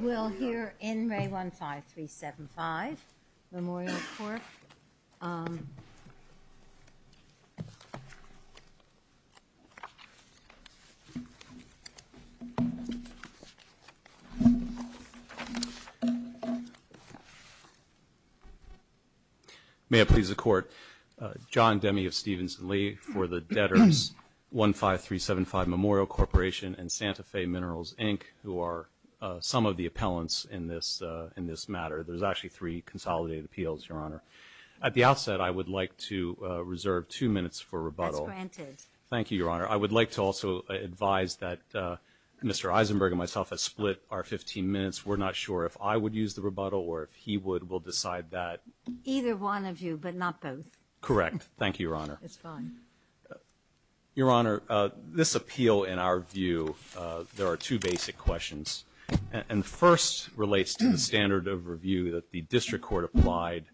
We'll hear in Re15375Memorial Corp. May it please the Court, John Demme of Stevenson Lee for the debtors Re15375Memorial Corp and Santa Fe Minerals, Inc. who are some of the appellants in this matter. There's actually three consolidated appeals, Your Honor. At the outset, I would like to reserve two minutes for rebuttal. That's granted. Thank you, Your Honor. I would like to also advise that Mr. Eisenberg and myself have split our 15 minutes. We're not sure if I would use the rebuttal or if he would. We'll decide that. Either one of you, but not both. Correct. Thank you, Your Honor. It's fine. Your Honor, this appeal, in our view, there are two basic questions. And the first relates to the standard of review that the district court applied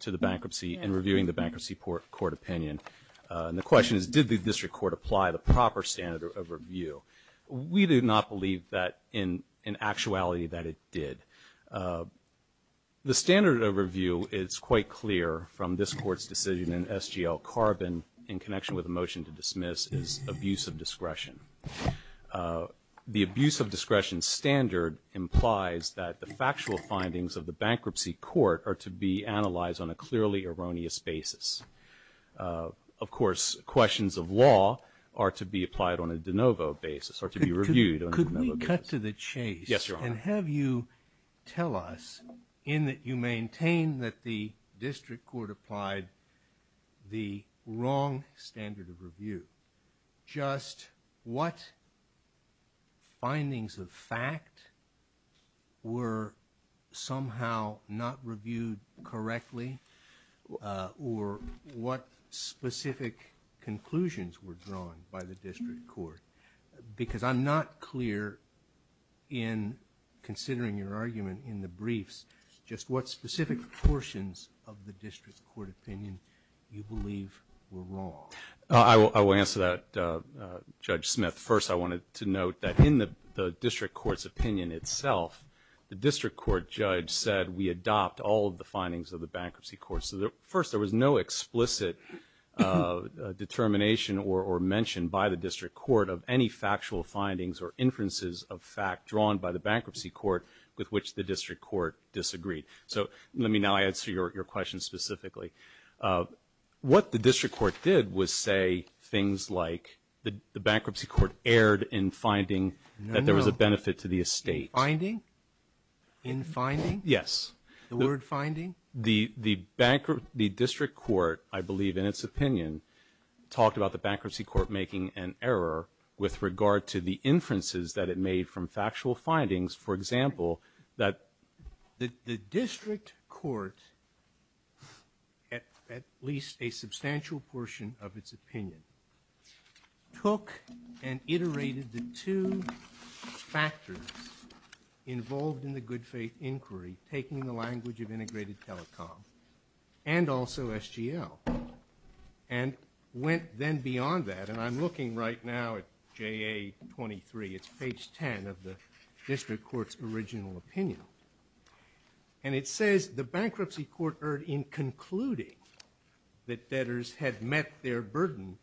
to the bankruptcy and reviewing the bankruptcy court opinion. And the question is, did the district court apply the proper standard of review? We do not believe that in actuality that it did. The standard of review is quite clear from this court's decision in SGL Carbon in connection with the motion to dismiss is abuse of discretion. The abuse of discretion standard implies that the factual findings of the bankruptcy court are to be analyzed on a clearly erroneous basis. Of course, questions of law are to be applied on a de novo basis or to be reviewed on a de novo basis. Could we cut to the chase? Yes, Your Honor. And have you tell us, in that you maintain that the district court applied the wrong standard of review, just what findings of fact were somehow not reviewed correctly or what specific conclusions were drawn by the district court? Because I'm not clear in considering your argument in the briefs, just what specific portions of the district court opinion you believe were wrong. I will answer that, Judge Smith. First, I wanted to note that in the district court's opinion itself, the district court judge said we adopt all of the findings of the bankruptcy court. First, there was no explicit determination or mention by the district court of any factual findings or inferences of fact drawn by the bankruptcy court with which the district court disagreed. So let me now answer your question specifically. What the district court did was say things like the bankruptcy court erred in finding that there was a benefit to the estate. Finding? In finding? Yes. The word finding? The district court, I believe in its opinion, talked about the bankruptcy court making an error with regard to the inferences that it made from factual findings. For example, that the district court, at least a substantial portion of its opinion, took and iterated the two factors involved in the good faith inquiry, taking the language of integrated telecom and also SGL. And went then beyond that. And I'm looking right now at JA23. It's page 10 of the district court's original opinion. And it says the bankruptcy court erred in concluding that debtors had met their burden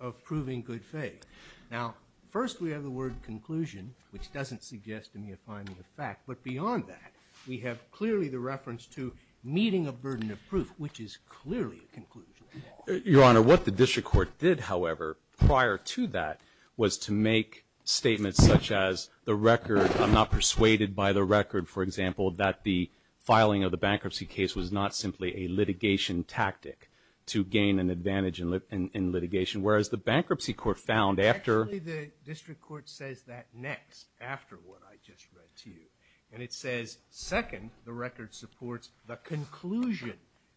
of proving good faith. Now, first we have the word conclusion, which doesn't suggest to me a finding of fact. But beyond that, we have clearly the reference to meeting a burden of proof, which is clearly a conclusion. Your Honor, what the district court did, however, prior to that, was to make statements such as the record, I'm not persuaded by the record, for example, that the filing of the bankruptcy case was not simply a litigation tactic to gain an advantage in litigation. Whereas the bankruptcy court found after. Actually, the district court says that next, after what I just read to you. And it says, second, the record supports the conclusion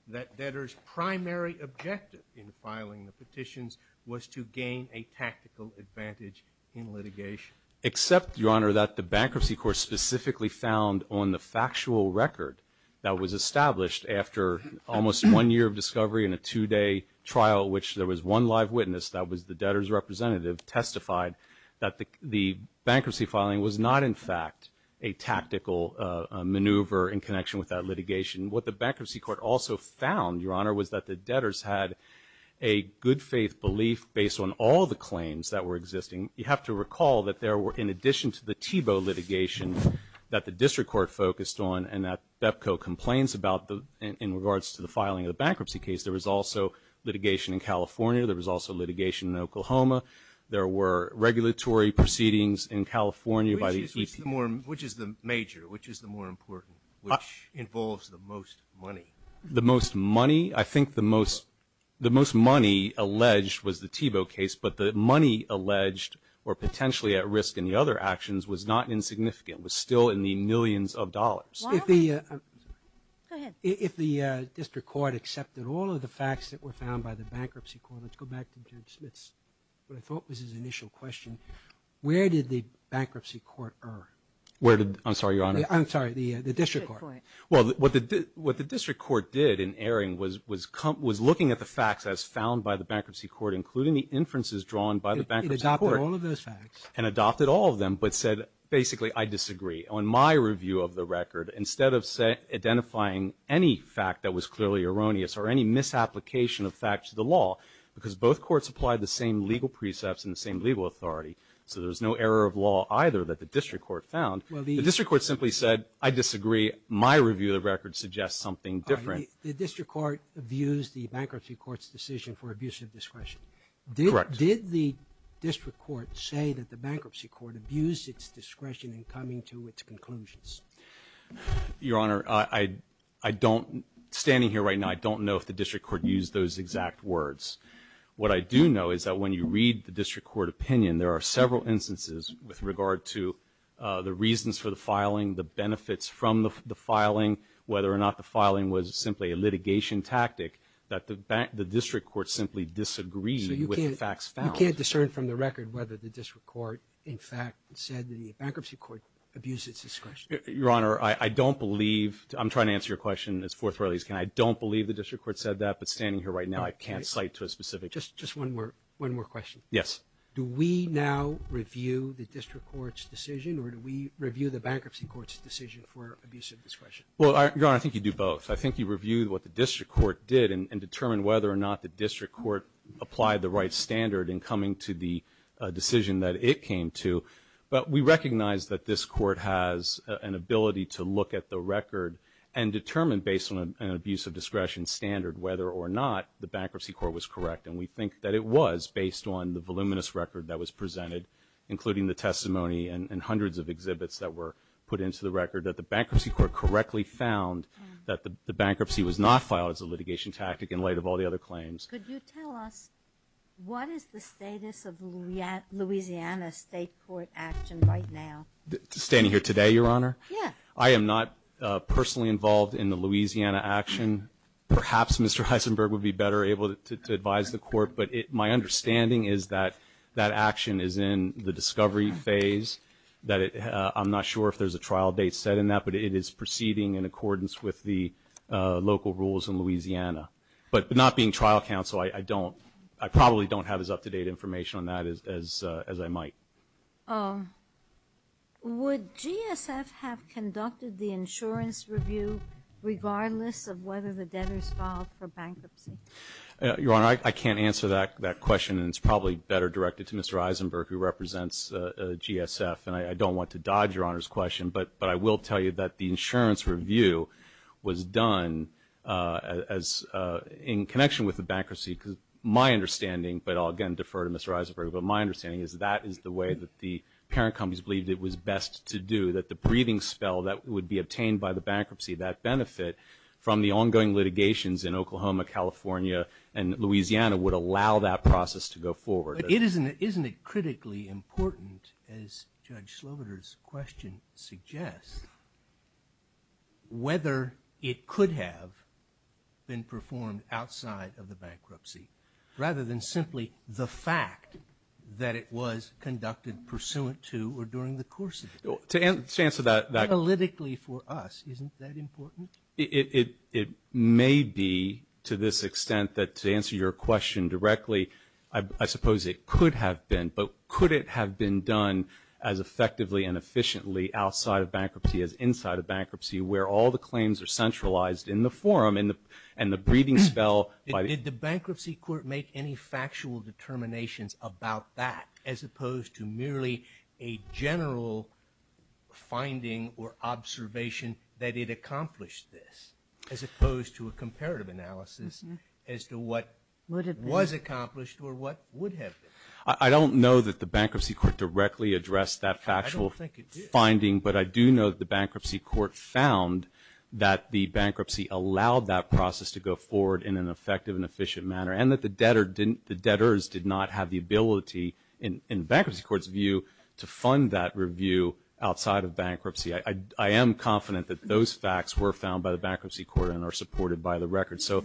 that debtors' primary objective in filing the petitions was to gain a tactical advantage in litigation. Except, Your Honor, that the bankruptcy court specifically found on the factual record that was established after almost one year of discovery and a two-day trial at which there was one live witness that was the debtors' representative that testified that the bankruptcy filing was not, in fact, a tactical maneuver in connection with that litigation. What the bankruptcy court also found, Your Honor, was that the debtors had a good faith belief based on all the claims that were existing. You have to recall that there were, in addition to the Thiebaud litigation that the district court focused on and that BEPCO complains about in regards to the filing of the bankruptcy case, there was also litigation in California. There was also litigation in Oklahoma. There were regulatory proceedings in California by the EPA. Which is the major? Which is the more important? Which involves the most money? The most money? I think the most money alleged was the Thiebaud case, but the money alleged or potentially at risk in the other actions was not insignificant. It was still in the millions of dollars. Go ahead. If the district court accepted all of the facts that were found by the bankruptcy court, let's go back to Judge Smith's what I thought was his initial question, where did the bankruptcy court err? I'm sorry, Your Honor. I'm sorry, the district court. Well, what the district court did in erring was looking at the facts as found by the bankruptcy court, including the inferences drawn by the bankruptcy court. It adopted all of those facts. And adopted all of them, but said, basically, I disagree. On my review of the record, instead of identifying any fact that was clearly erroneous or any misapplication of fact to the law, because both courts applied the same legal precepts and the same legal authority, so there was no error of law either that the district court found. The district court simply said, I disagree. My review of the record suggests something different. The district court views the bankruptcy court's decision for abuse of discretion. Correct. Did the district court say that the bankruptcy court abused its discretion in coming to its conclusions? Your Honor, I don't, standing here right now, I don't know if the district court used those exact words. What I do know is that when you read the district court opinion, there are several instances with regard to the reasons for the filing, the benefits from the filing, whether or not the filing was simply a litigation tactic that the district court simply disagreed with the facts found. So you can't discern from the record whether the district court, in fact, said that the bankruptcy court abused its discretion. Your Honor, I don't believe, I'm trying to answer your question as forthrightly as I can. I don't believe the district court said that, but standing here right now, I can't cite to a specific. Just one more question. Yes. Do we now review the district court's decision, or do we review the bankruptcy court's decision for abuse of discretion? Well, Your Honor, I think you do both. I think you review what the district court did and determine whether or not the district court applied the right standard in coming to the decision that it came to. But we recognize that this court has an ability to look at the record and determine based on an abuse of discretion standard whether or not the bankruptcy court was correct. And we think that it was based on the voluminous record that was presented, that the bankruptcy court correctly found that the bankruptcy was not filed as a litigation tactic in light of all the other claims. Could you tell us what is the status of the Louisiana state court action right now? Standing here today, Your Honor? Yes. I am not personally involved in the Louisiana action. Perhaps Mr. Heisenberg would be better able to advise the court, but my understanding is that that action is in the discovery phase, that I'm not sure if there's a trial date set in that, but it is proceeding in accordance with the local rules in Louisiana. But not being trial counsel, I probably don't have as up-to-date information on that as I might. Would GSF have conducted the insurance review regardless of whether the debtors filed for bankruptcy? Your Honor, I can't answer that question, and it's probably better directed to Mr. Heisenberg, who represents GSF. And I don't want to dodge Your Honor's question, but I will tell you that the insurance review was done in connection with the bankruptcy. My understanding, but I'll again defer to Mr. Heisenberg, but my understanding is that is the way that the parent companies believed it was best to do, that the breathing spell that would be obtained by the bankruptcy, that benefit from the ongoing litigations in Oklahoma, California, and Louisiana would allow that process to go forward. Isn't it critically important, as Judge Slobiter's question suggests, whether it could have been performed outside of the bankruptcy, rather than simply the fact that it was conducted pursuant to or during the course of it? To answer that question. Analytically for us, isn't that important? It may be, to this extent, that to answer your question directly, I suppose it could have been, but could it have been done as effectively and efficiently outside of bankruptcy as inside of bankruptcy, where all the claims are centralized in the forum and the breathing spell? Did the bankruptcy court make any factual determinations about that, as opposed to merely a general finding or observation that it accomplished this, as opposed to a comparative analysis as to what was accomplished or what would have been? I don't know that the bankruptcy court directly addressed that factual finding, but I do know that the bankruptcy court found that the bankruptcy allowed that process to go forward in an effective and efficient manner, and that the debtors did not have the ability in the bankruptcy court's view to fund that review outside of bankruptcy. I am confident that those facts were found by the bankruptcy court and are supported by the record. So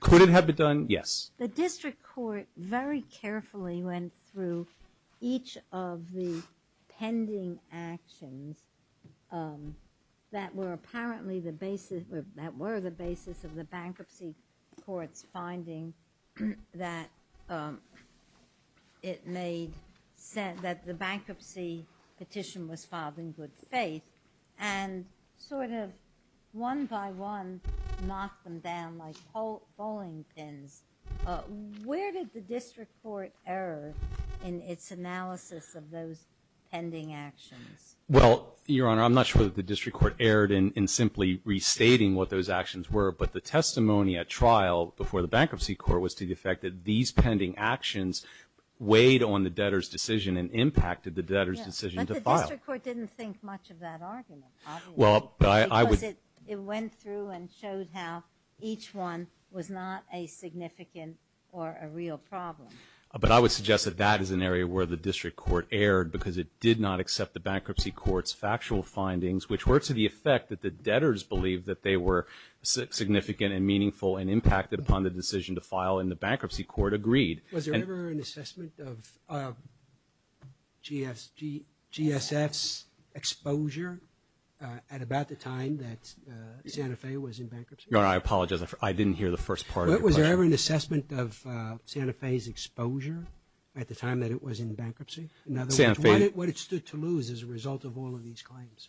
could it have been done? Yes. The district court very carefully went through each of the pending actions that were apparently the basis, that were the basis of the bankruptcy court's finding that it made sense that the bankruptcy petition was filed in good faith, and sort of one by one knocked them down like bowling pins. Where did the district court err in its analysis of those pending actions? Well, Your Honor, I'm not sure that the district court erred in simply restating what those actions were, but the testimony at trial before the bankruptcy court was to the effect that these pending actions weighed on the debtor's decision and impacted the debtor's decision to file. Yes, but the district court didn't think much of that argument, obviously. Well, I would. Because it went through and showed how each one was not a significant or a real problem. But I would suggest that that is an area where the district court erred because it did not accept the bankruptcy court's factual findings, which were to the effect that the debtors believed that they were significant and meaningful and impacted upon the decision to file, and the bankruptcy court agreed. Was there ever an assessment of GSF's exposure at about the time that Santa Fe was in bankruptcy? Your Honor, I apologize. I didn't hear the first part of your question. Was there ever an assessment of Santa Fe's exposure at the time that it was in bankruptcy? In other words, what it stood to lose as a result of all of these claims?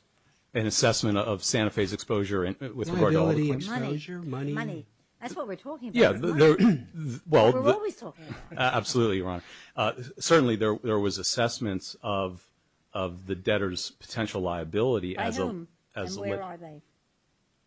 An assessment of Santa Fe's exposure with regard to all the claims. Liability, exposure, money. Money. That's what we're talking about. Yeah, well. That's what we're always talking about. Absolutely, Your Honor. Certainly there was assessments of the debtors' potential liability. By whom? And where are they?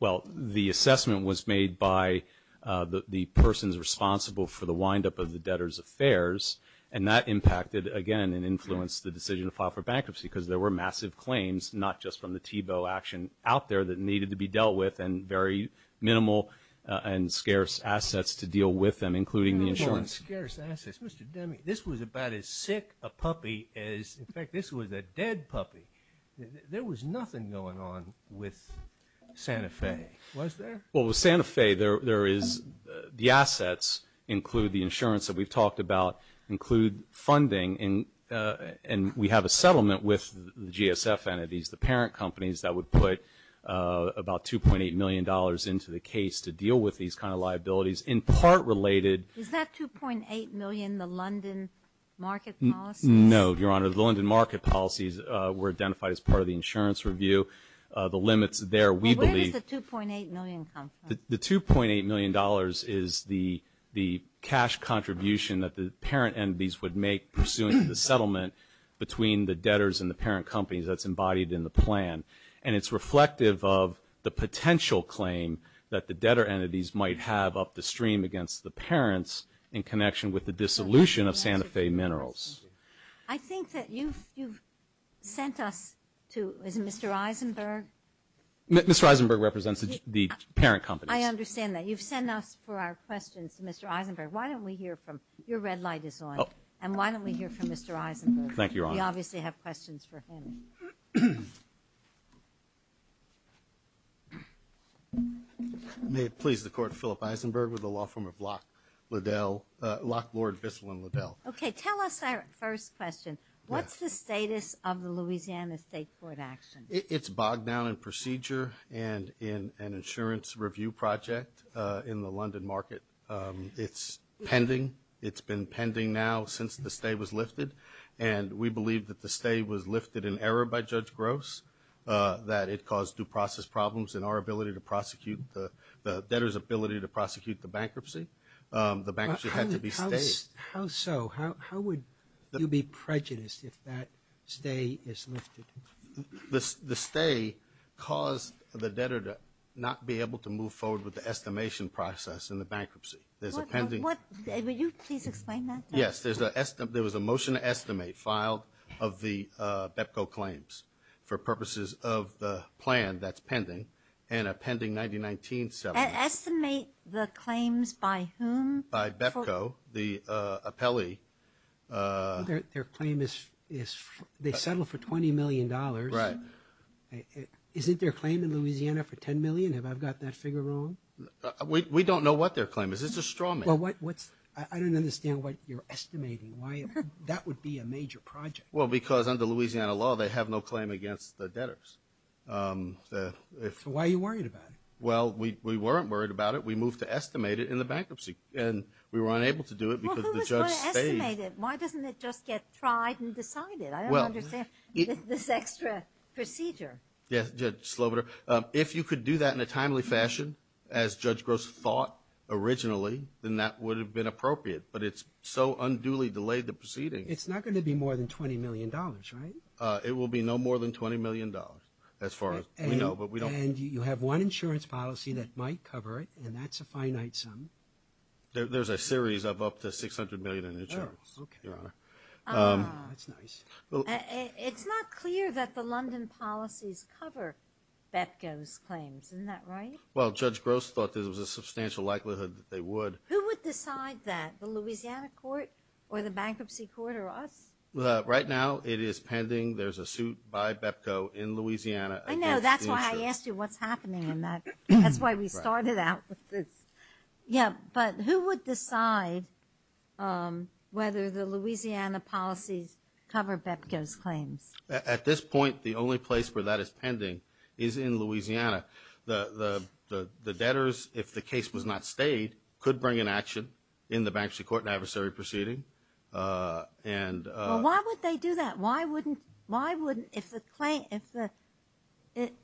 Well, the assessment was made by the persons responsible for the windup of the debtors' affairs, and that impacted, again, and influenced the decision to file for bankruptcy because there were massive claims, not just from the Tebow action out there that needed to be dealt with and very minimal and scarce assets to deal with them, including the insurance. Minimal and scarce assets. Mr. Demme, this was about as sick a puppy as, in fact, this was a dead puppy. There was nothing going on with Santa Fe, was there? Well, with Santa Fe, the assets include the insurance that we've talked about, include funding, and we have a settlement with the GSF entities, the parent companies, that would put about $2.8 million into the case to deal with these kind of liabilities, in part related. Is that $2.8 million the London market policy? No, Your Honor. The London market policies were identified as part of the insurance review. The limits there, we believe. Where does the $2.8 million come from? The $2.8 million is the cash contribution that the parent entities would make pursuing the settlement between the debtors and the parent companies that's embodied in the plan, and it's reflective of the potential claim that the debtor entities might have up the stream against the parents in connection with the dissolution of Santa Fe Minerals. I think that you've sent us to, is it Mr. Eisenberg? Mr. Eisenberg represents the parent companies. I understand that. You've sent us for our questions to Mr. Eisenberg. Why don't we hear from, your red light is on, and why don't we hear from Mr. Eisenberg? Thank you, Your Honor. We obviously have questions for him. May it please the Court, Philip Eisenberg with the law firm of Locke, Lord, Bissell, and Liddell. Okay. Tell us our first question. What's the status of the Louisiana State Court action? It's bogged down in procedure and in an insurance review project in the London market. It's pending. It's been pending now since the stay was lifted, and we believe that the stay was lifted in error by Judge Gross, that it caused due process problems in our ability to prosecute the debtors' ability to prosecute the bankruptcy. The bankruptcy had to be stayed. How so? How would you be prejudiced if that stay is lifted? The stay caused the debtor to not be able to move forward with the estimation process in the bankruptcy. There's a pending. Will you please explain that? Yes. There was a motion to estimate filed of the BEPCO claims for purposes of the plan that's pending, and a pending 1919 settlement. Estimate the claims by whom? By BEPCO, the appellee. Their claim is they settled for $20 million. Right. Isn't their claim in Louisiana for $10 million? Have I got that figure wrong? We don't know what their claim is. It's a straw man. I don't understand what you're estimating, why that would be a major project. Well, because under Louisiana law, they have no claim against the debtors. So why are you worried about it? Well, we weren't worried about it. We moved to estimate it in the bankruptcy, and we were unable to do it because the judge stayed. Well, who is going to estimate it? Why doesn't it just get tried and decided? I don't understand this extra procedure. Yes, Judge Slobiter. If you could do that in a timely fashion, as Judge Gross thought originally, then that would have been appropriate. But it's so unduly delayed the proceeding. It's not going to be more than $20 million, right? It will be no more than $20 million, as far as we know. And you have one insurance policy that might cover it, and that's a finite sum. There's a series of up to $600 million in insurance, Your Honor. Ah, that's nice. It's not clear that the London policies cover BEPCO's claims. Isn't that right? Well, Judge Gross thought there was a substantial likelihood that they would. Who would decide that, the Louisiana court or the bankruptcy court or us? Right now, it is pending. There's a suit by BEPCO in Louisiana against the insurance. I know. That's why I asked you what's happening in that. That's why we started out with this. Yeah, but who would decide whether the Louisiana policies cover BEPCO's claims? At this point, the only place where that is pending is in Louisiana. The debtors, if the case was not stayed, could bring an action in the bankruptcy court and adversary proceeding. Well, why would they do that?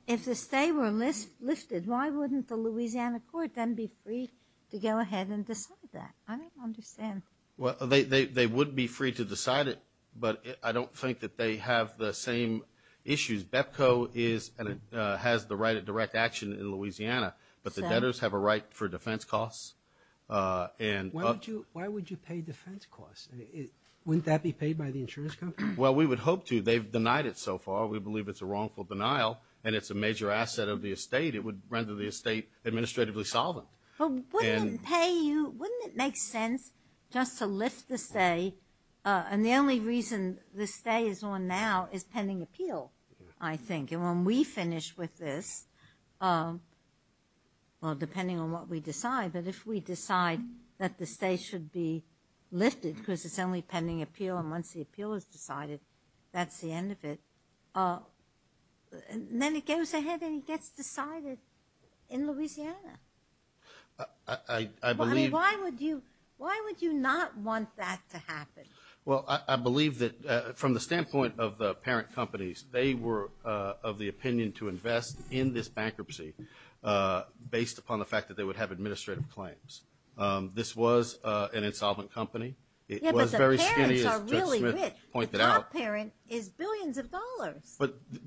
If the stay were lifted, why wouldn't the Louisiana court then be free to go ahead and decide that? I don't understand. Well, they would be free to decide it, but I don't think that they have the same issues. BEPCO has the right of direct action in Louisiana, but the debtors have a right for defense costs. Why would you pay defense costs? Wouldn't that be paid by the insurance company? Well, we would hope to. They've denied it so far. We believe it's a wrongful denial and it's a major asset of the estate. It would render the estate administratively solvent. But wouldn't it make sense just to lift the stay? And the only reason the stay is on now is pending appeal, I think. And when we finish with this, well, depending on what we decide, but if we decide that the stay should be lifted because it's only pending appeal and once the appeal is decided, that's the end of it. Then it goes ahead and it gets decided in Louisiana. I believe – I mean, why would you not want that to happen? Well, I believe that from the standpoint of the parent companies, they were of the opinion to invest in this bankruptcy based upon the fact that they would have administrative claims. This was an insolvent company. Yeah, but the parents are really rich. The top parent is billions of dollars.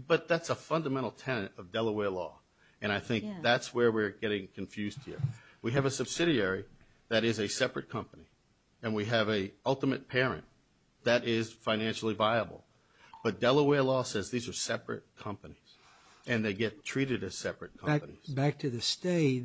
But that's a fundamental tenet of Delaware law, and I think that's where we're getting confused here. We have a subsidiary that is a separate company, and we have a ultimate parent that is financially viable. But Delaware law says these are separate companies, and they get treated as separate companies. Back to the stay,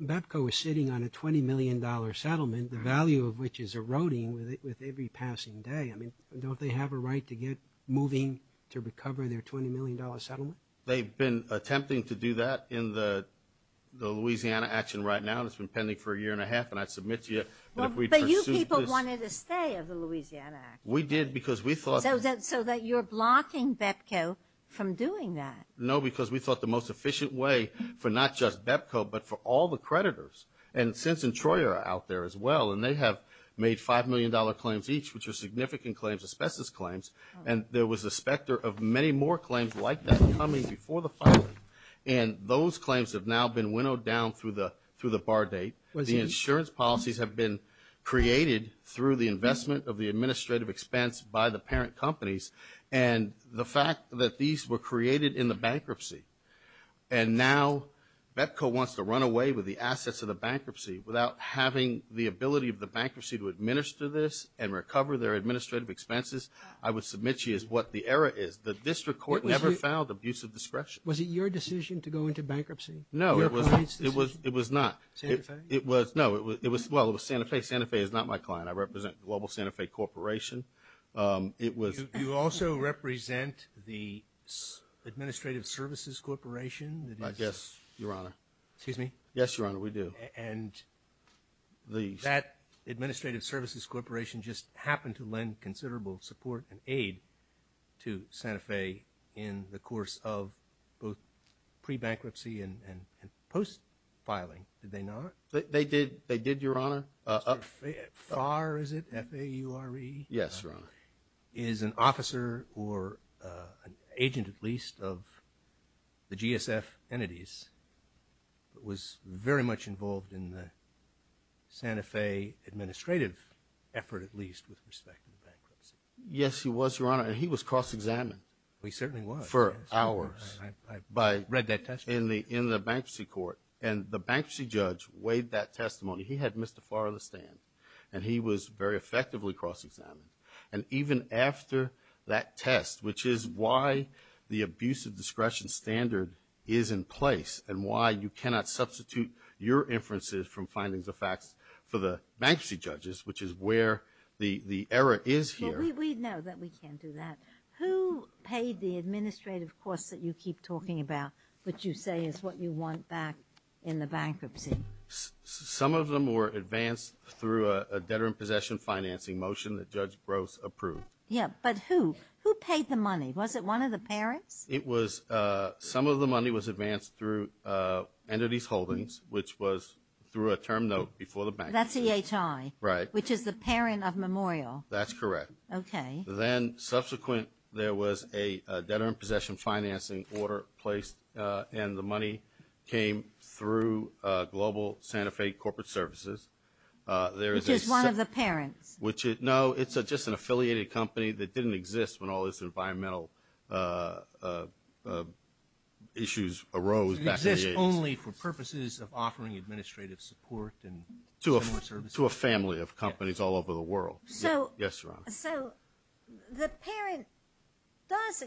BEPCO is sitting on a $20 million settlement, the value of which is eroding with every passing day. I mean, don't they have a right to get moving to recover their $20 million settlement? They've been attempting to do that in the Louisiana action right now, and it's been pending for a year and a half. And I submit to you that if we pursued this – But you people wanted a stay of the Louisiana action. We did because we thought – So that you're blocking BEPCO from doing that. No, because we thought the most efficient way for not just BEPCO, but for all the creditors. And Sins and Troy are out there as well, and they have made $5 million claims each, which are significant claims, asbestos claims, and there was a specter of many more claims like that coming before the filing. And those claims have now been winnowed down through the bar date. The insurance policies have been created through the investment of the administrative expense by the parent companies. And the fact that these were created in the bankruptcy, and now BEPCO wants to run away with the assets of the bankruptcy without having the ability of the bankruptcy to administer this and recover their administrative expenses, I would submit to you is what the error is. The district court never filed abuse of discretion. Was it your decision to go into bankruptcy? No, it was not. Santa Fe? No, well, it was Santa Fe. Santa Fe is not my client. I represent Global Santa Fe Corporation. You also represent the Administrative Services Corporation? Yes, Your Honor. Excuse me? Yes, Your Honor, we do. And that Administrative Services Corporation just happened to lend considerable support and aid to Santa Fe in the course of both pre-bankruptcy and post-filing, did they not? They did, Your Honor. FAR, is it? F-A-U-R-E? Yes, Your Honor. Is an officer or an agent at least of the GSF entities that was very much involved in the Santa Fe administrative effort at least with respect to the bankruptcy? Yes, he was, Your Honor, and he was cross-examined. He certainly was. For hours. I read that testimony. In the bankruptcy court, and the bankruptcy judge weighed that testimony. He had missed the FAR of the stand, and he was very effectively cross-examined. And even after that test, which is why the abusive discretion standard is in place and why you cannot substitute your inferences from findings of facts for the bankruptcy judges, which is where the error is here. Well, we know that we can't do that. Who paid the administrative costs that you keep talking about, which you say is what you want back in the bankruptcy? Some of them were advanced through a debtor-in-possession financing motion that Judge Gross approved. Yes, but who? Who paid the money? Was it one of the parents? Some of the money was advanced through entities holdings, which was through a term note before the bankruptcy. That's EHI. Right. Which is the parent of Memorial. That's correct. Okay. Then subsequent there was a debtor-in-possession financing order placed, and the money came through Global Santa Fe Corporate Services. Which is one of the parents. No, it's just an affiliated company that didn't exist when all this environmental issues arose back in the 80s. It existed only for purposes of offering administrative support and similar services. To a family of companies all over the world. Yes, Your Honor. So the parent does,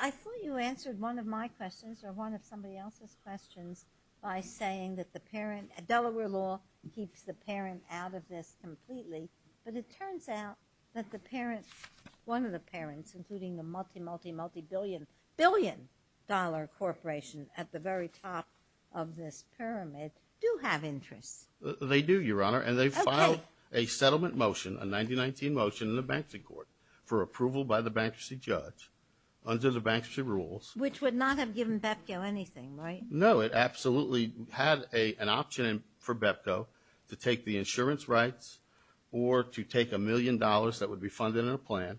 I thought you answered one of my questions or one of somebody else's questions by saying that the parent, Delaware law, keeps the parent out of this completely. But it turns out that the parent, one of the parents, including the multi, multi, multi-billion, billion dollar corporation at the very top of this pyramid, do have interests. They do, Your Honor. Okay. And they filed a settlement motion, a 1919 motion, in the bankruptcy court for approval by the bankruptcy judge under the bankruptcy rules. Which would not have given BEPCO anything, right? No. It absolutely had an option for BEPCO to take the insurance rights or to take a million dollars that would be funded in a plan.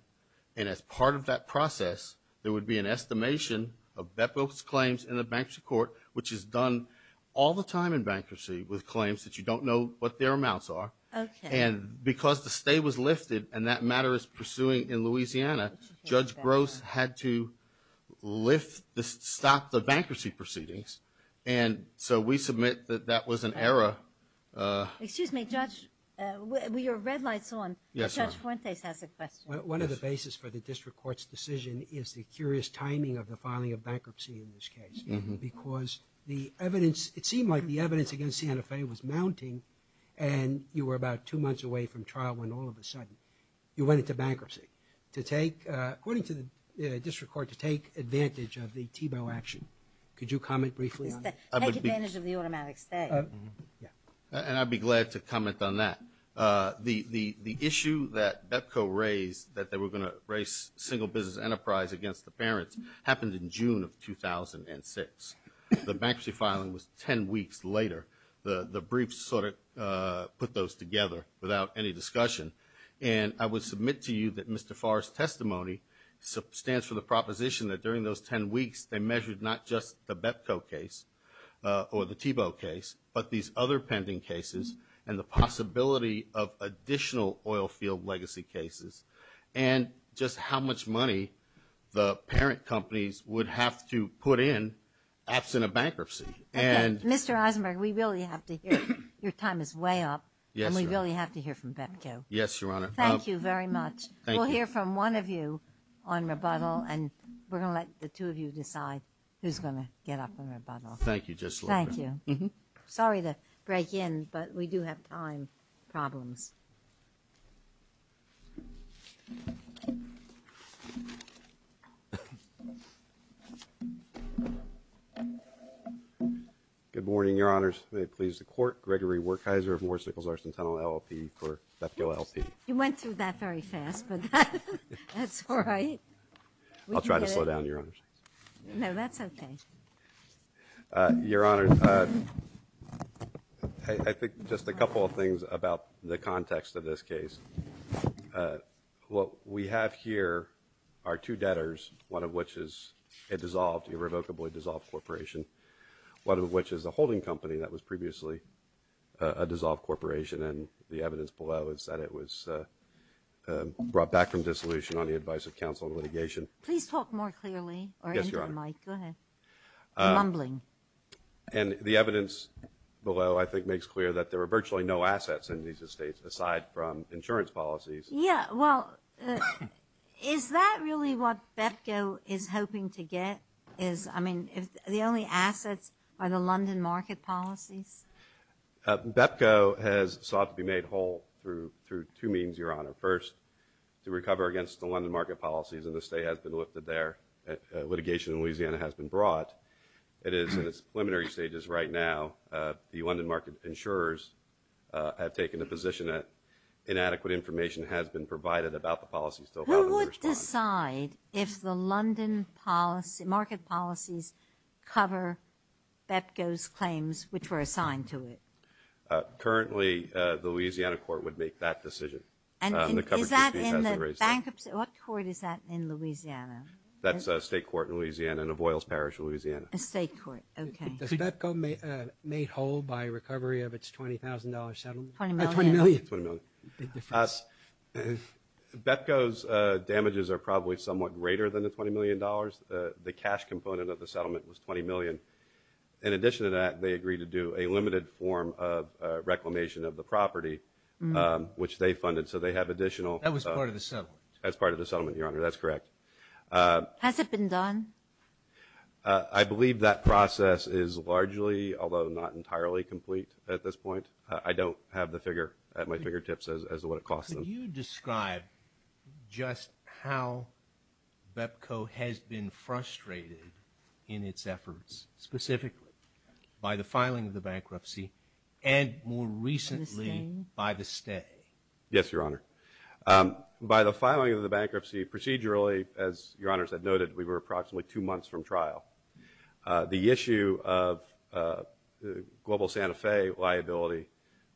And as part of that process, there would be an estimation of BEPCO's claims in the bankruptcy court, which is done all the time in bankruptcy with claims that you don't know what their amounts are. Okay. And because the stay was lifted and that matter is pursuing in Louisiana, Judge Gross had to lift, stop the bankruptcy proceedings. And so we submit that that was an error. Excuse me, Judge. Your red light's on. Yes, Your Honor. Judge Fuentes has a question. One of the basis for the district court's decision is the curious timing of the filing of bankruptcy in this case. Because the evidence, it seemed like the evidence against Santa Fe was mounting and you were about two months away from trial when all of a sudden you went into bankruptcy. To take, according to the district court, to take advantage of the TBO action. Could you comment briefly on that? Take advantage of the automatic stay. And I'd be glad to comment on that. The issue that BEPCO raised that they were going to raise single business enterprise against the parents happened in June of 2006. The bankruptcy filing was 10 weeks later. The briefs sort of put those together without any discussion. And I would submit to you that Mr. Farr's testimony stands for the proposition that during those 10 weeks they measured not just the BEPCO case or the TBO case, but these other pending cases and the possibility of additional oil field legacy cases and just how much money the parent companies would have to put in absent of bankruptcy. And Mr. Eisenberg, we really have to hear your time is way up and we really have to hear from BEPCO. Yes, Your Honor. Thank you very much. We'll hear from one of you on rebuttal and we're going to let the two of you decide who's going to get up on rebuttal. Thank you. Just thank you. Sorry to break in, but we do have time problems. Good morning, Your Honors. May it please the court. Gregory Wertheiser of Morrisicles, our Centennial LLP for BEPCO LP. You went through that very fast, but that's all right. I'll try to slow down, Your Honor. No, that's okay. Uh, Your Honor, uh, I, I think just a couple of things about the context of this case. Uh, what we have here are two debtors, one of which is a dissolved irrevocably dissolved corporation. One of which is a holding company that was previously, uh, a dissolved corporation. And the evidence below is that it was, uh, uh, brought back from dissolution on the advice of counsel and litigation. Please talk more clearly or into the mic. Yes, Your Honor. Go ahead. I'm mumbling. Uh, and the evidence below, I think, makes clear that there were virtually no assets in these estates aside from insurance policies. Yeah, well, is that really what BEPCO is hoping to get? Is, I mean, if the only assets are the London market policies? Uh, BEPCO has sought to be made whole through, through two means, Your Honor. First, to recover against the London market policies and the state has been lifted there. Uh, litigation in Louisiana has been brought. It is in its preliminary stages right now. Uh, the London market insurers, uh, have taken a position that inadequate information has been provided about the policies. Who would decide if the London policy, the London market policies cover BEPCO's claims, which were assigned to it? Uh, currently, uh, the Louisiana court would make that decision. And is that in the bankruptcy? What court is that in Louisiana? That's a state court in Louisiana, in Avoyles Parish, Louisiana. A state court. Okay. Does BEPCO, uh, made whole by recovery of its $20,000 settlement? 20 million. 20 million. 20 million. Big difference. Uh, BEPCO's, uh, settlement was bigger than the $20 million. Uh, the cash component of the settlement was 20 million. In addition to that, they agreed to do a limited form of, uh, reclamation of the property, um, which they funded. So they have additional. That was part of the settlement. That's part of the settlement, Your Honor. That's correct. Uh. Has it been done? Uh, I believe that process is largely, although not entirely complete at this point. Uh, I don't have the figure at my fingertips as, as to what it costs them. Could you describe just how BEPCO has been frustrated in its efforts, specifically by the filing of the bankruptcy, and more recently by the stay? Yes, Your Honor. Um, by the filing of the bankruptcy, procedurally, as Your Honors have noted, we were approximately two months from trial. Uh, the issue of, uh, Global Santa Fe liability,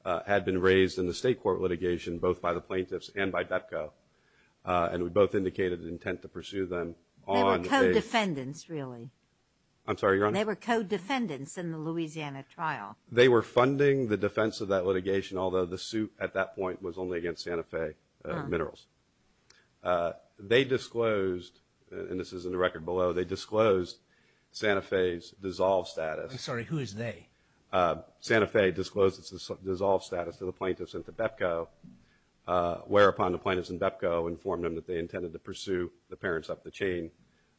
uh, had been raised in the state court litigation, both by the plaintiffs and by BEPCO. Uh, and we both indicated intent to pursue them on a. They were co-defendants, really. I'm sorry, Your Honor. They were co-defendants in the Louisiana trial. They were funding the defense of that litigation, although the suit at that point was only against Santa Fe, uh, minerals. Uh, they disclosed, and this is in the record below, they disclosed Santa Fe's dissolved status. I'm sorry, who is they? Uh, Santa Fe disclosed its, its dissolved status to the plaintiffs and to BEPCO, uh, whereupon the plaintiffs and BEPCO informed them that they intended to pursue the parents up the chain,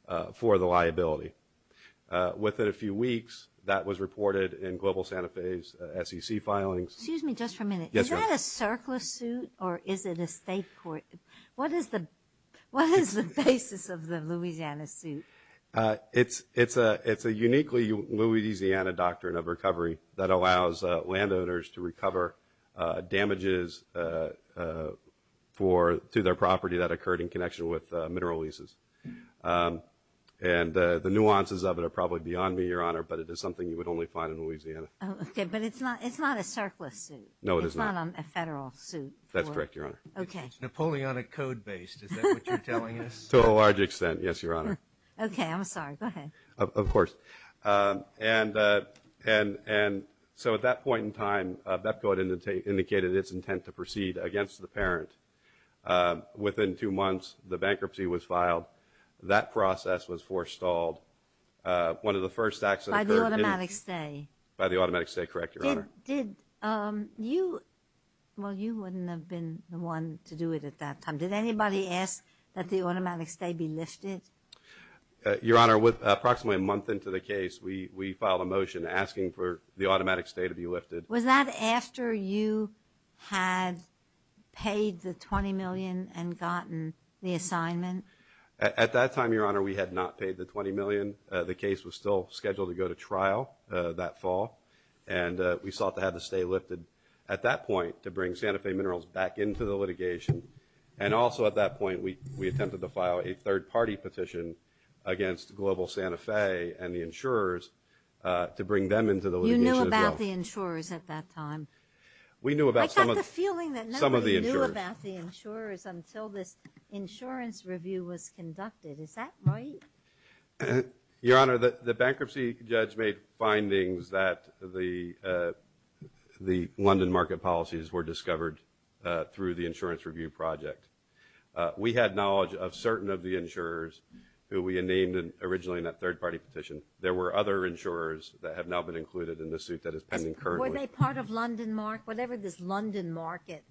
uh, for the liability. Uh, within a few weeks, that was reported in Global Santa Fe's, uh, SEC filings. Excuse me just for a minute. Yes, Your Honor. Is that a circular suit or is it a state court? What is the, what is the basis of the Louisiana suit? Uh, it's, it's a, it's a uniquely Louisiana doctrine of recovery that allows, uh, landowners to recover, uh, damages, uh, uh, for, to their property that occurred in connection with, uh, mineral leases. Um, and, uh, the nuances of it are probably beyond me, Your Honor, but it is something you would only find in Louisiana. Oh, okay, but it's not, it's not a circular suit. No, it is not. It's not a federal suit. That's correct, Your Honor. Okay. It's Napoleonic code based. Is that what you're telling us? To a large extent, yes, Your Honor. Okay, I'm sorry. Go ahead. Of, of course. Um, and, and, and, so at that point in time, uh, BEPCO had indicated its intent to proceed against the parent. Um, within two months, the bankruptcy was filed. That process was forestalled. Uh, one of the first acts that occurred. By the automatic stay. By the automatic stay, correct, Your Honor. Did, did, um, you, well, you wouldn't have been the one to do it at that time. Did anybody ask that the automatic stay be lifted? Uh, Your Honor, with approximately a month into the case, we, we filed a motion asking for the automatic stay to be lifted. Was that after you had paid the 20 million and gotten the assignment? At, at that time, Your Honor, we had not paid the 20 million. Uh, the case was still scheduled to go to trial, uh, that fall. And, uh, we sought to have the stay lifted at that point to bring Santa Fe Minerals back into the litigation. And also, at that point, we, we attempted to file a third-party petition against Global Santa Fe and the insurers, uh, to bring them into the litigation. You knew about the insurers at that time? We knew about some of the, I got the feeling that nobody knew about the insurers until this insurance review was conducted. Is that right? Uh, Your Honor, the London market policies were discovered, uh, through the insurance review. And, and, and, and, and, and, and, and, and, and, and the, the London market policies of course was discovered through the year review project. Uh, we had knowledge of certain of the insurers who we had named originally in that third-party petition. There were other insured that have now been included in the suit that Is pending currently. Were they part of London market, whatever this London market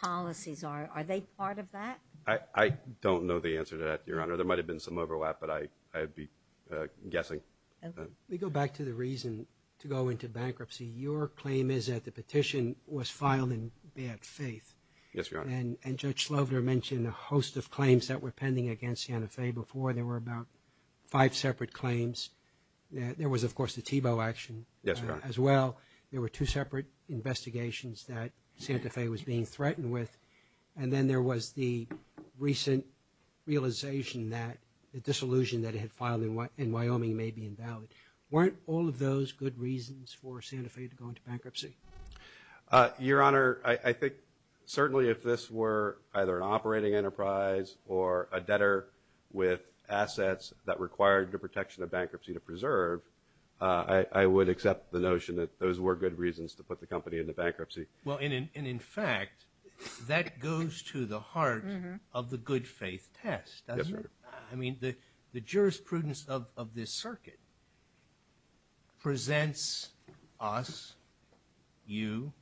policies are. Are they part of that? I don't know the answer to that Your Honor, there might've been some overlap but I, I'd be, uh, guessing. Ok. Let me go back to the reason to go into bankruptcy. Your claim is that the petition was filed in bad faith. Yes, Your Honor. And, and Judge Slover mentioned a host of claims that were pending against Santa Fe before. There were about five separate claims. There was, of course, the Tebow action. Yes, Your Honor. As well, there were two separate investigations that Santa Fe was being threatened with. And then there was the recent realization that the disillusion that I, I, I don't know the answer to that. I, I, I, I don't know the answer to that. I, I, I, I, I, I'm afraid to go into bankruptcy. Uh, your honor, I, I think certainly if this were either operating enterprise or a debtor with assets that required the protection of bankruptcy to preserve, uh, I, I would accept the notion that those were good reasons to put the company into bankruptcy. Well, and in, in, in fact, that goes to the. Mm-hmm. Heart of the good faith test. That's right. I mean, the, the jurisprudence of, of this circuit presents us, you,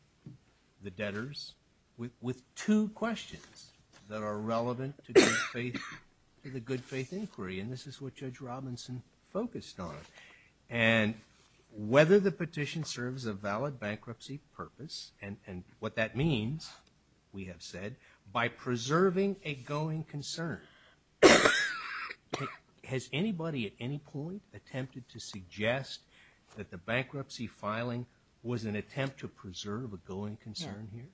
the debtors with, with two questions that are relevant to good faith, to the good faith inquiry. And this is what Judge Robinson focused on. And whether the petition serves a valid bankruptcy purpose and, and what that means, we have said, by preserving a going concern. Has anybody at any point attempted to suggest that the bankruptcy filing was an attempt to preserve a going concern here?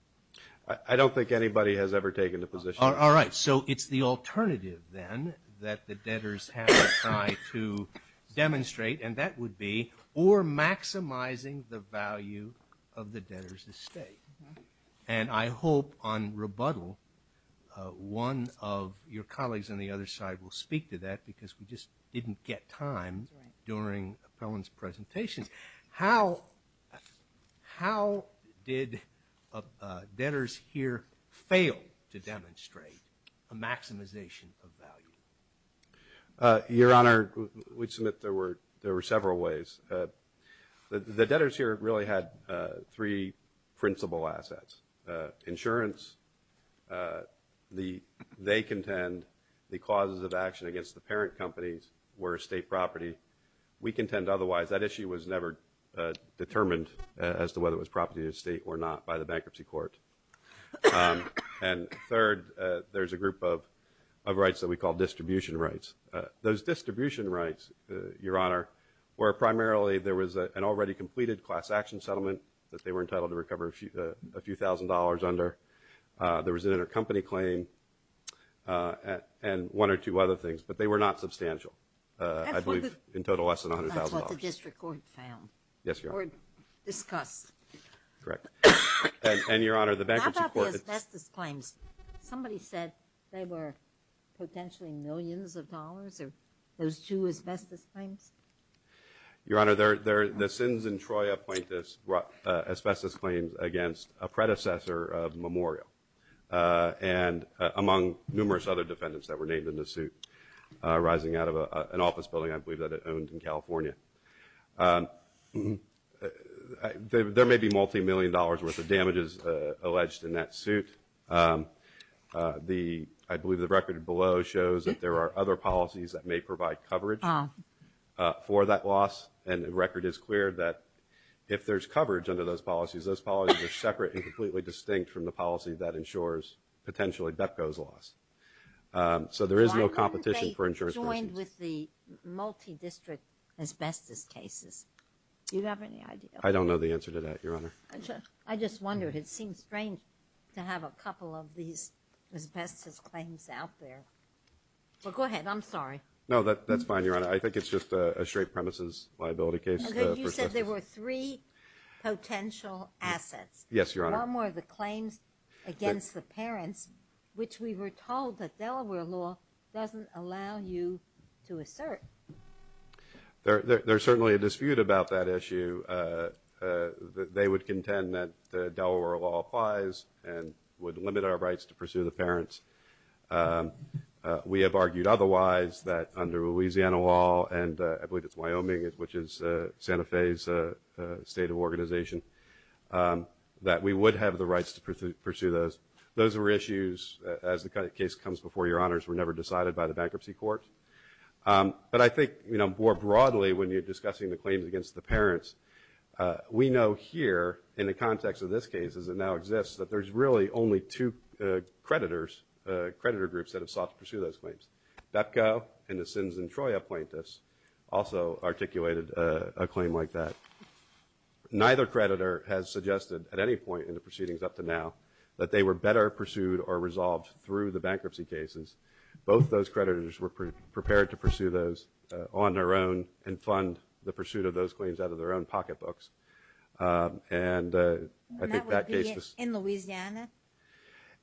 I, I don't think anybody has ever taken the position. All right. So it's the alternative then that the debtors have tried to demonstrate and that would be or maximizing the value of the debtor's estate. And I hope on rebuttal one of your colleagues on the other side will speak to that because we just didn't get time during Appellant's presentations. How, how did debtors here fail to demonstrate a maximization of value? Your Honor, we submit there were several ways. The debtors here really had three principal assets. Insurance, the, they contend the clauses of action against the parent companies were state property. We contend otherwise. That issue was never determined as to whether it was property of the state or not by the bankruptcy court. And third, there's a group of rights that we call distribution rights. Those distribution rights, Your Honor, were primarily there was an already completed class action settlement that they were entitled to recover a few thousand dollars under. There was an intercompany claim and one or two other things but they were not substantial. I believe in total less than a million dollars. Somebody said they were potentially millions of dollars or those two asbestos claims? Your Honor, the Sins and Troia plaintiffs brought asbestos claims against a predecessor of Memorial and among numerous other defendants that were named in the suit arising out of an office building I believe that it owned in California. There may be multi-million dollars worth of damages alleged in that suit. I believe the record below shows that there are other policies that may provide coverage for that loss and the record is clear that if there's coverage under those policies are separate and completely distinct from the policy that ensures potentially DEPCO's loss. So there is no competition for insurance claims. I was joined with the multi-district asbestos cases. Do you have any idea? I don't know the answer to that, Your Honor. I just wondered. It seems strange to have a couple of these asbestos claims out there. Go ahead. I'm sorry. No, that's fine, Your Honor. I think it's just a straight premises liability case. You said there were three potential assets. Yes, Your Honor. One were the claims against the parents which we were told that Delaware law doesn't allow you to assert. There's certainly a dispute about that issue. They would contend that Delaware law applies and would limit our rights to pursue the parents. We have argued otherwise that under the Louisiana law and I believe it's Wyoming which is Santa Fe's state of organization that we would have the rights to pursue those. Those were issues as the case comes before Your Honors were never decided by the bankruptcy court. But I think more broadly when you're discussing the claims against the parents, we know here in the context of this case as it now exists that there's really only two creditors, creditor groups that have sought to pursue those claims. BEPCO and the Sins and Troy Appointments also articulated a claim like that. Neither creditor has suggested at any point in the proceedings up to now that they were better pursued or resolved through the bankruptcy cases. Both those claims were not pursued and I think that case was... In Louisiana?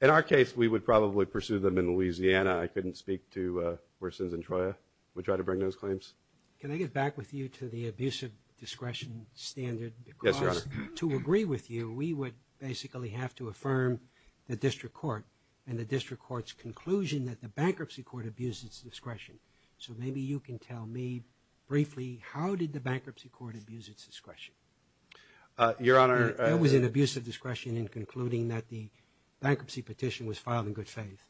In our case we would probably pursue them in Louisiana. I couldn't speak to where Sins and Troy are. bring those claims. Can I get back with you to the abusive discretion standard because to agree with you we would basically have to affirm the district court and the district court's conclusion that the bankruptcy court abused its discretion. So maybe you can tell me briefly how did the bankruptcy court abuse its discretion? It was an abusive discretion in concluding that the bankruptcy petition was filed in good faith.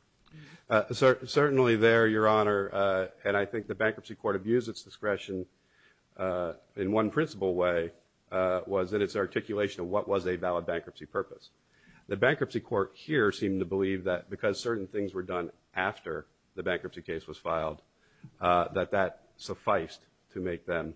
Certainly there, Your Honor, and I think the bankruptcy court abused its discretion in one principle way was in its articulation of what was a valid bankruptcy purpose. The bankruptcy court here seemed to believe that because certain things were done after the bankruptcy case was filed that that sufficed to make them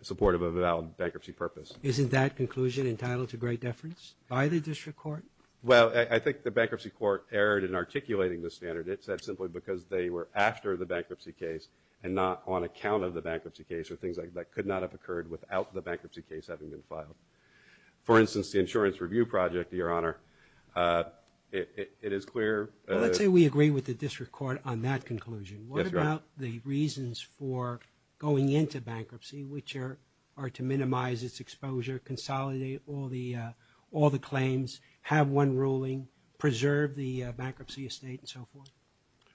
supportive of a valid bankruptcy purpose. Isn't that conclusion entitled to great deference by the district court? Well, I think the bankruptcy court erred in articulating the standard. It said simply because they were after the bankruptcy case and not on account of the bankruptcy case or things that could not have occurred without the bankruptcy case having been filed. For instance, the insurance review project, Your Honor, it is clear Let's say we agree with the district court on that conclusion. What about the reasons for going into bankruptcy which are to minimize its consolidate all the claims, have one ruling, preserve the bankruptcy estate and so forth?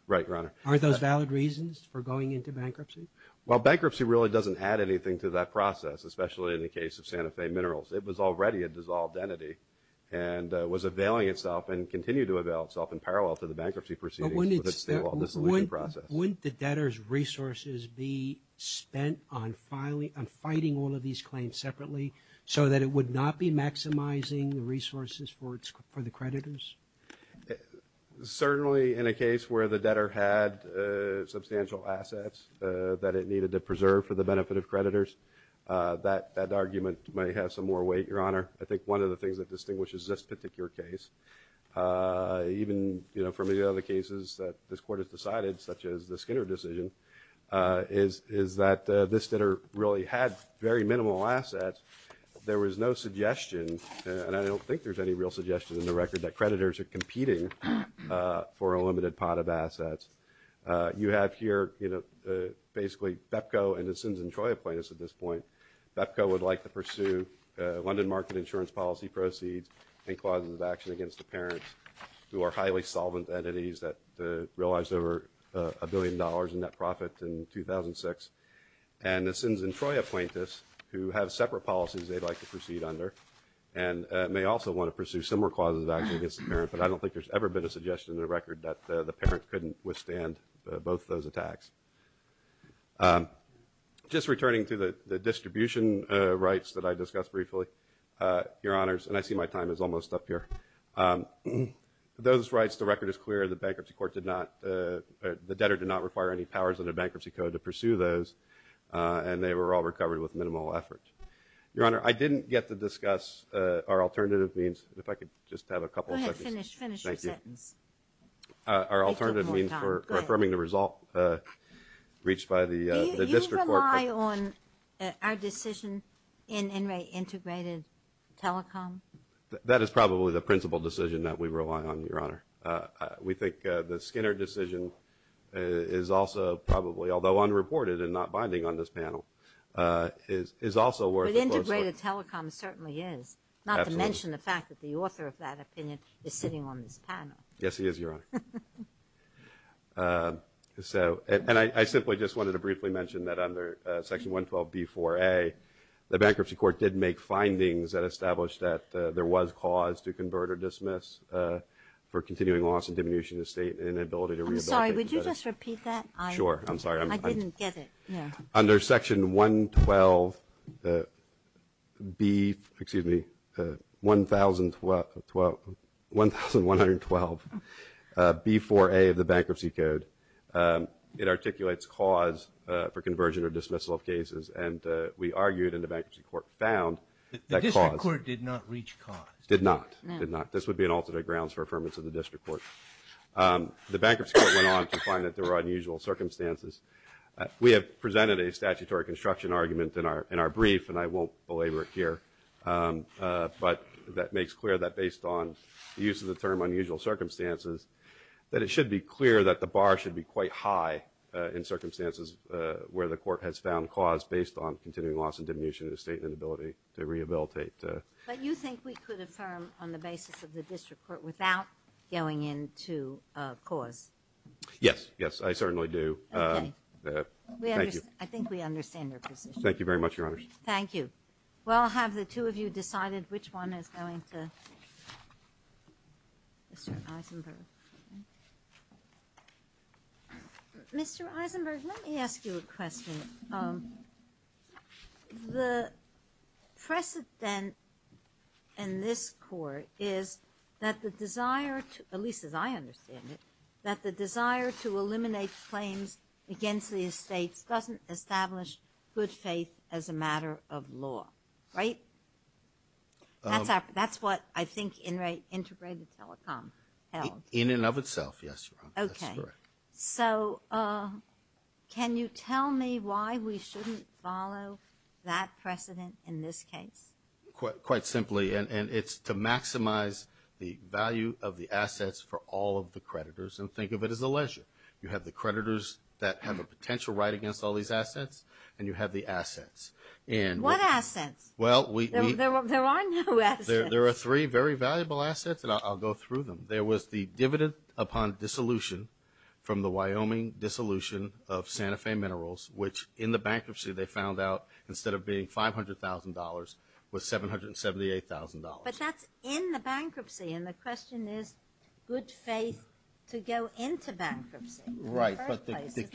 Right, Your Honor. Are those valid reasons for going into bankruptcy? Well, bankruptcy really doesn't add anything to that process as a result of the bankruptcy proceedings. Wouldn't the debtor's resources be spent on fighting all of these claims separately so that it would not be maximizing the resources for the creditors? Certainly in a case where the debtor had substantial assets that it needed to preserve for the benefit of creditors, that argument might have some more weight, Your Honor. I think one of the things that distinguishes this particular case, even from the other cases that this Court has decided, such as the Skinner decision, is that this debtor really had very minimal assets. There was no suggestion and I don't think there's any real suggestion in the record that creditors are competing for a limited pot of assets. You have here, basically, BEPCO and the Sins and Troy Appointments at this point. BEPCO would like to pursue London Market Insurance Policy proceeds and clauses of action against the parents who are highly solvent entities that realized over a billion dollars in net profit in 2006. And the Sins and Troy Appointments who have separate policies they'd like to proceed under and may also want to pursue similar clauses of action against the parent, but I don't think there's ever been a suggestion in the record that the parent couldn't withstand both those attacks. Just returning to the distribution rights that I discussed briefly, Your Honors, and I see my time is running out. I think we were all recovered with minimal effort. Your Honor, I didn't get to discuss our alternative means. If I could just have a couple of seconds. Go ahead, finish your sentence. Thank you. Our alternative means for affirming the result reached by the District Court. Do you rely on our decision in integrated telecom? That is probably the principal decision that we rely on, Your Honor. We think the Skinner decision is also although unreported and not binding on this panel, is also worth a close look. But integrated telecom certainly is, not to mention the fact that the author of that opinion is sitting on this panel. Yes, he is, Your Honor. I simply just wanted to briefly mention that under Section 112B4A the Bankruptcy Court did make findings that established that there was cause to convert or dismiss for continuing loss and diminution of state and inability to rehabilitate. I'm sorry, would you just repeat that? Sure, I'm sorry. I didn't get it. Under Section 112B excuse me, 1,112, 1,112, B4A of the Bankruptcy Code, it articulates cause for conversion or dismissal of cases and we argued and the Bankruptcy Court found that cause The District Court did not reach cause. Did not, did not. This would be an alternate grounds for affirmation of the District Court. The Bankruptcy Court went on to make it clear that the bar should be quite high in circumstances where the Court has found cause based on continuing loss and diminution of state and inability to rehabilitate. But you think we could affirm on the basis of the District Court without going into cause? Yes, yes, I certainly do. Okay. Thank you. I think we understand your position. Thank you very much, Your Honors. Thank you. Well, have the two of you decided which one is going to Mr. Eisenberg? Mr. Eisenberg, let me ask you a question. Um, the precedent in this Court is that the desire to, at least as I understand it, that the desire to eliminate claims against the estates doesn't establish good faith as a matter of law, right? That's what I think Integrated Telecom held. In and of itself, yes, Your Honor. Okay. So, can you tell me why we shouldn't follow that precedent in this case? Quite simply, and it's to maximize the value of the assets for all of the creditors, and think of it as a leisure. You have the creditors that have a potential right against all these assets, and you have the assets. And What assets? Well, we There are no assets. There are three very valuable assets, and I'll go through them. There was the dividend upon dissolution from the Wyoming dissolution of Santa Fe Minerals, which in the bankruptcy they found out instead of being $500,000 was $778,000. But that's in the bankruptcy, and the question is good faith to go into bankruptcy, and we submit there was. Well, why don't we stick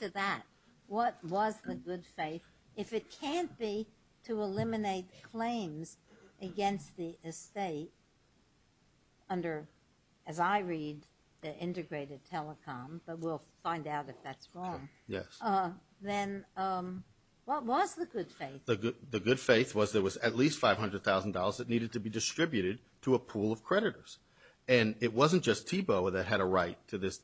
to that? What was the good faith? If it can't be to eliminate claims against the estate under, as I read, the integrated telecom, but we'll find out if that's wrong, then what was the good faith? The good faith was there was at least $500,000 that needed to be distributed to a pool of creditors. And it wasn't just Tebow that had a right to this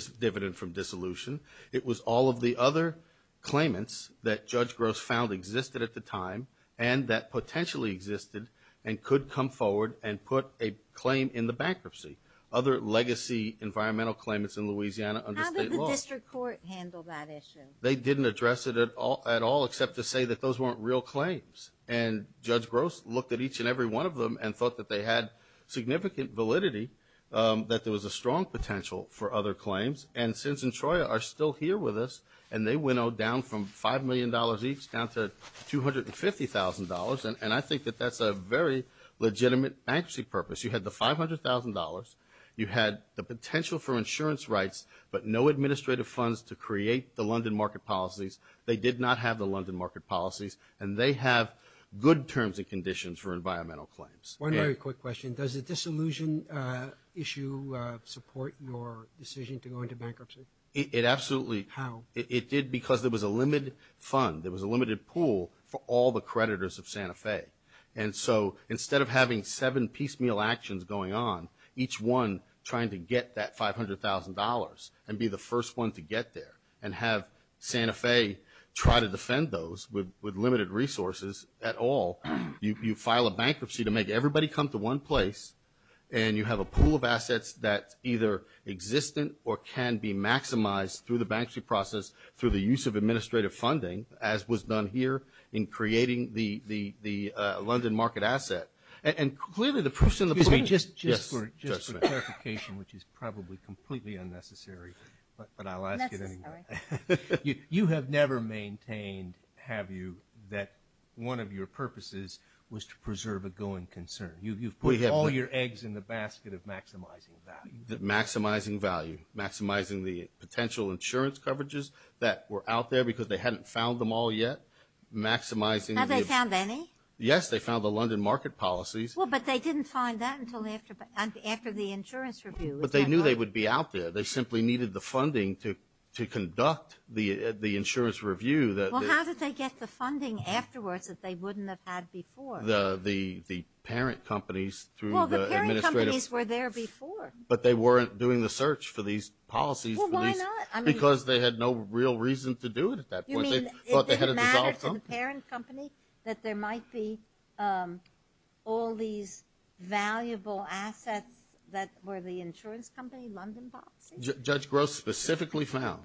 dividend from dissolution. It was all of the other claimants that Judge Gross found existed at the time and that potentially existed and could come forward and put a claim in the bankruptcy. Other legacy environmental claimants in Louisiana under state law. How did the District Court handle that issue? They didn't address it at all except to say that those weren't real claims. And Judge Gross looked at each and every one of them and thought that they had a very legitimate bankruptcy purpose. You had the $500,000, you had the potential for insurance rights, but no administrative funds to create the London market policies. They did not have the London market policies and they have good terms and conditions for environmental claims. One very simple example. So instead of having seven piecemeal actions going on, each one trying to get that $500,000 and be the first one to get there and have Santa Fe try to defend those with limited resources at all, you file a bankruptcy to make everybody come to one place and you have a pool of assets that either exist or can be maximized through the bankruptcy process through the use of administrative funding as was done here in creating the London market asset. And clearly the proof is in the pudding. Just for clarification which is probably completely unnecessary, but I'll ask it anyway. You have never maintained have you that one of your purposes was to preserve a going concern. You've put all your eggs in the basket of maximizing value. Maximizing value. Maximizing the potential insurance coverages that were out there because they hadn't found them all yet. Maximizing Have they found any? Yes. They found the London market policies. But they didn't find that until after the insurance review. But they knew they would be out there. They simply needed the funding to conduct the insurance review. How did they get the funding afterwards that they needed? They went to the parent company that there might be all these valuable assets that were the insurance company London policy. Judge Gross specifically found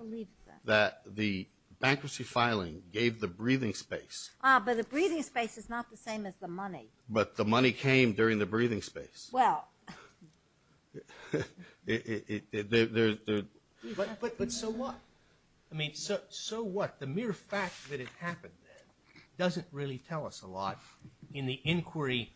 that the bankruptcy filing gave the breathing space But the breathing space is not the same as the money. But the money came during the breathing space. Well But so what? I mean so what? The mere fact that it happened then doesn't really tell us a lot in the inquiry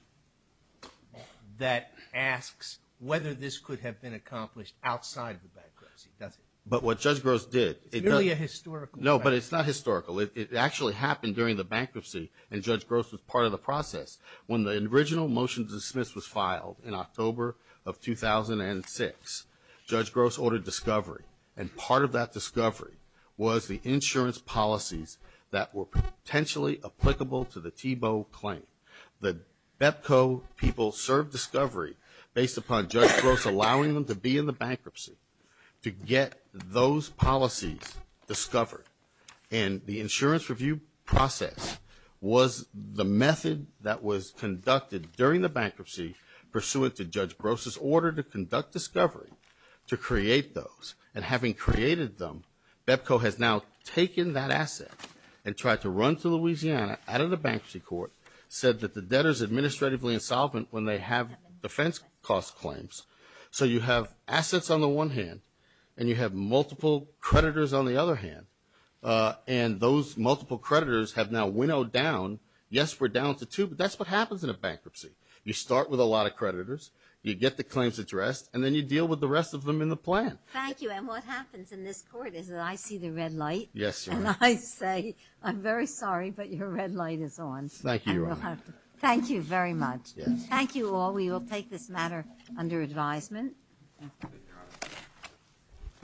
that asks whether this could have been accomplished outside the bankruptcy, does it? But what Judge Gross did It's merely a historical fact No but it's not historical. It actually happened during the bankruptcy and Judge Gross was part of the process. When the original motion to dismiss was filed in October of 2006 Judge Gross ordered discovery and part of that discovery was the insurance policies that were potentially applicable to the Tebow claim. The BEPCO people served discovery based upon Judge Gross allowing them to be in the bankruptcy to get those policies discovered and the insurance review process was the BEPCO has now taken that asset and tried to run to Louisiana out of the bankruptcy court said that the debtors administratively insolvent when they have defense cost claims so you have assets on the one hand and you have multiple creditors on the other hand and those multiple creditors have now winnowed down yes we're down to two but that's what happens in a bankruptcy you start with a lot of creditors you get the claims addressed and then you deal with the rest of them in the plan. Thank you and what happens in this court is that I see the red light is on. Thank you very much thank you all we will take this matter under advisement.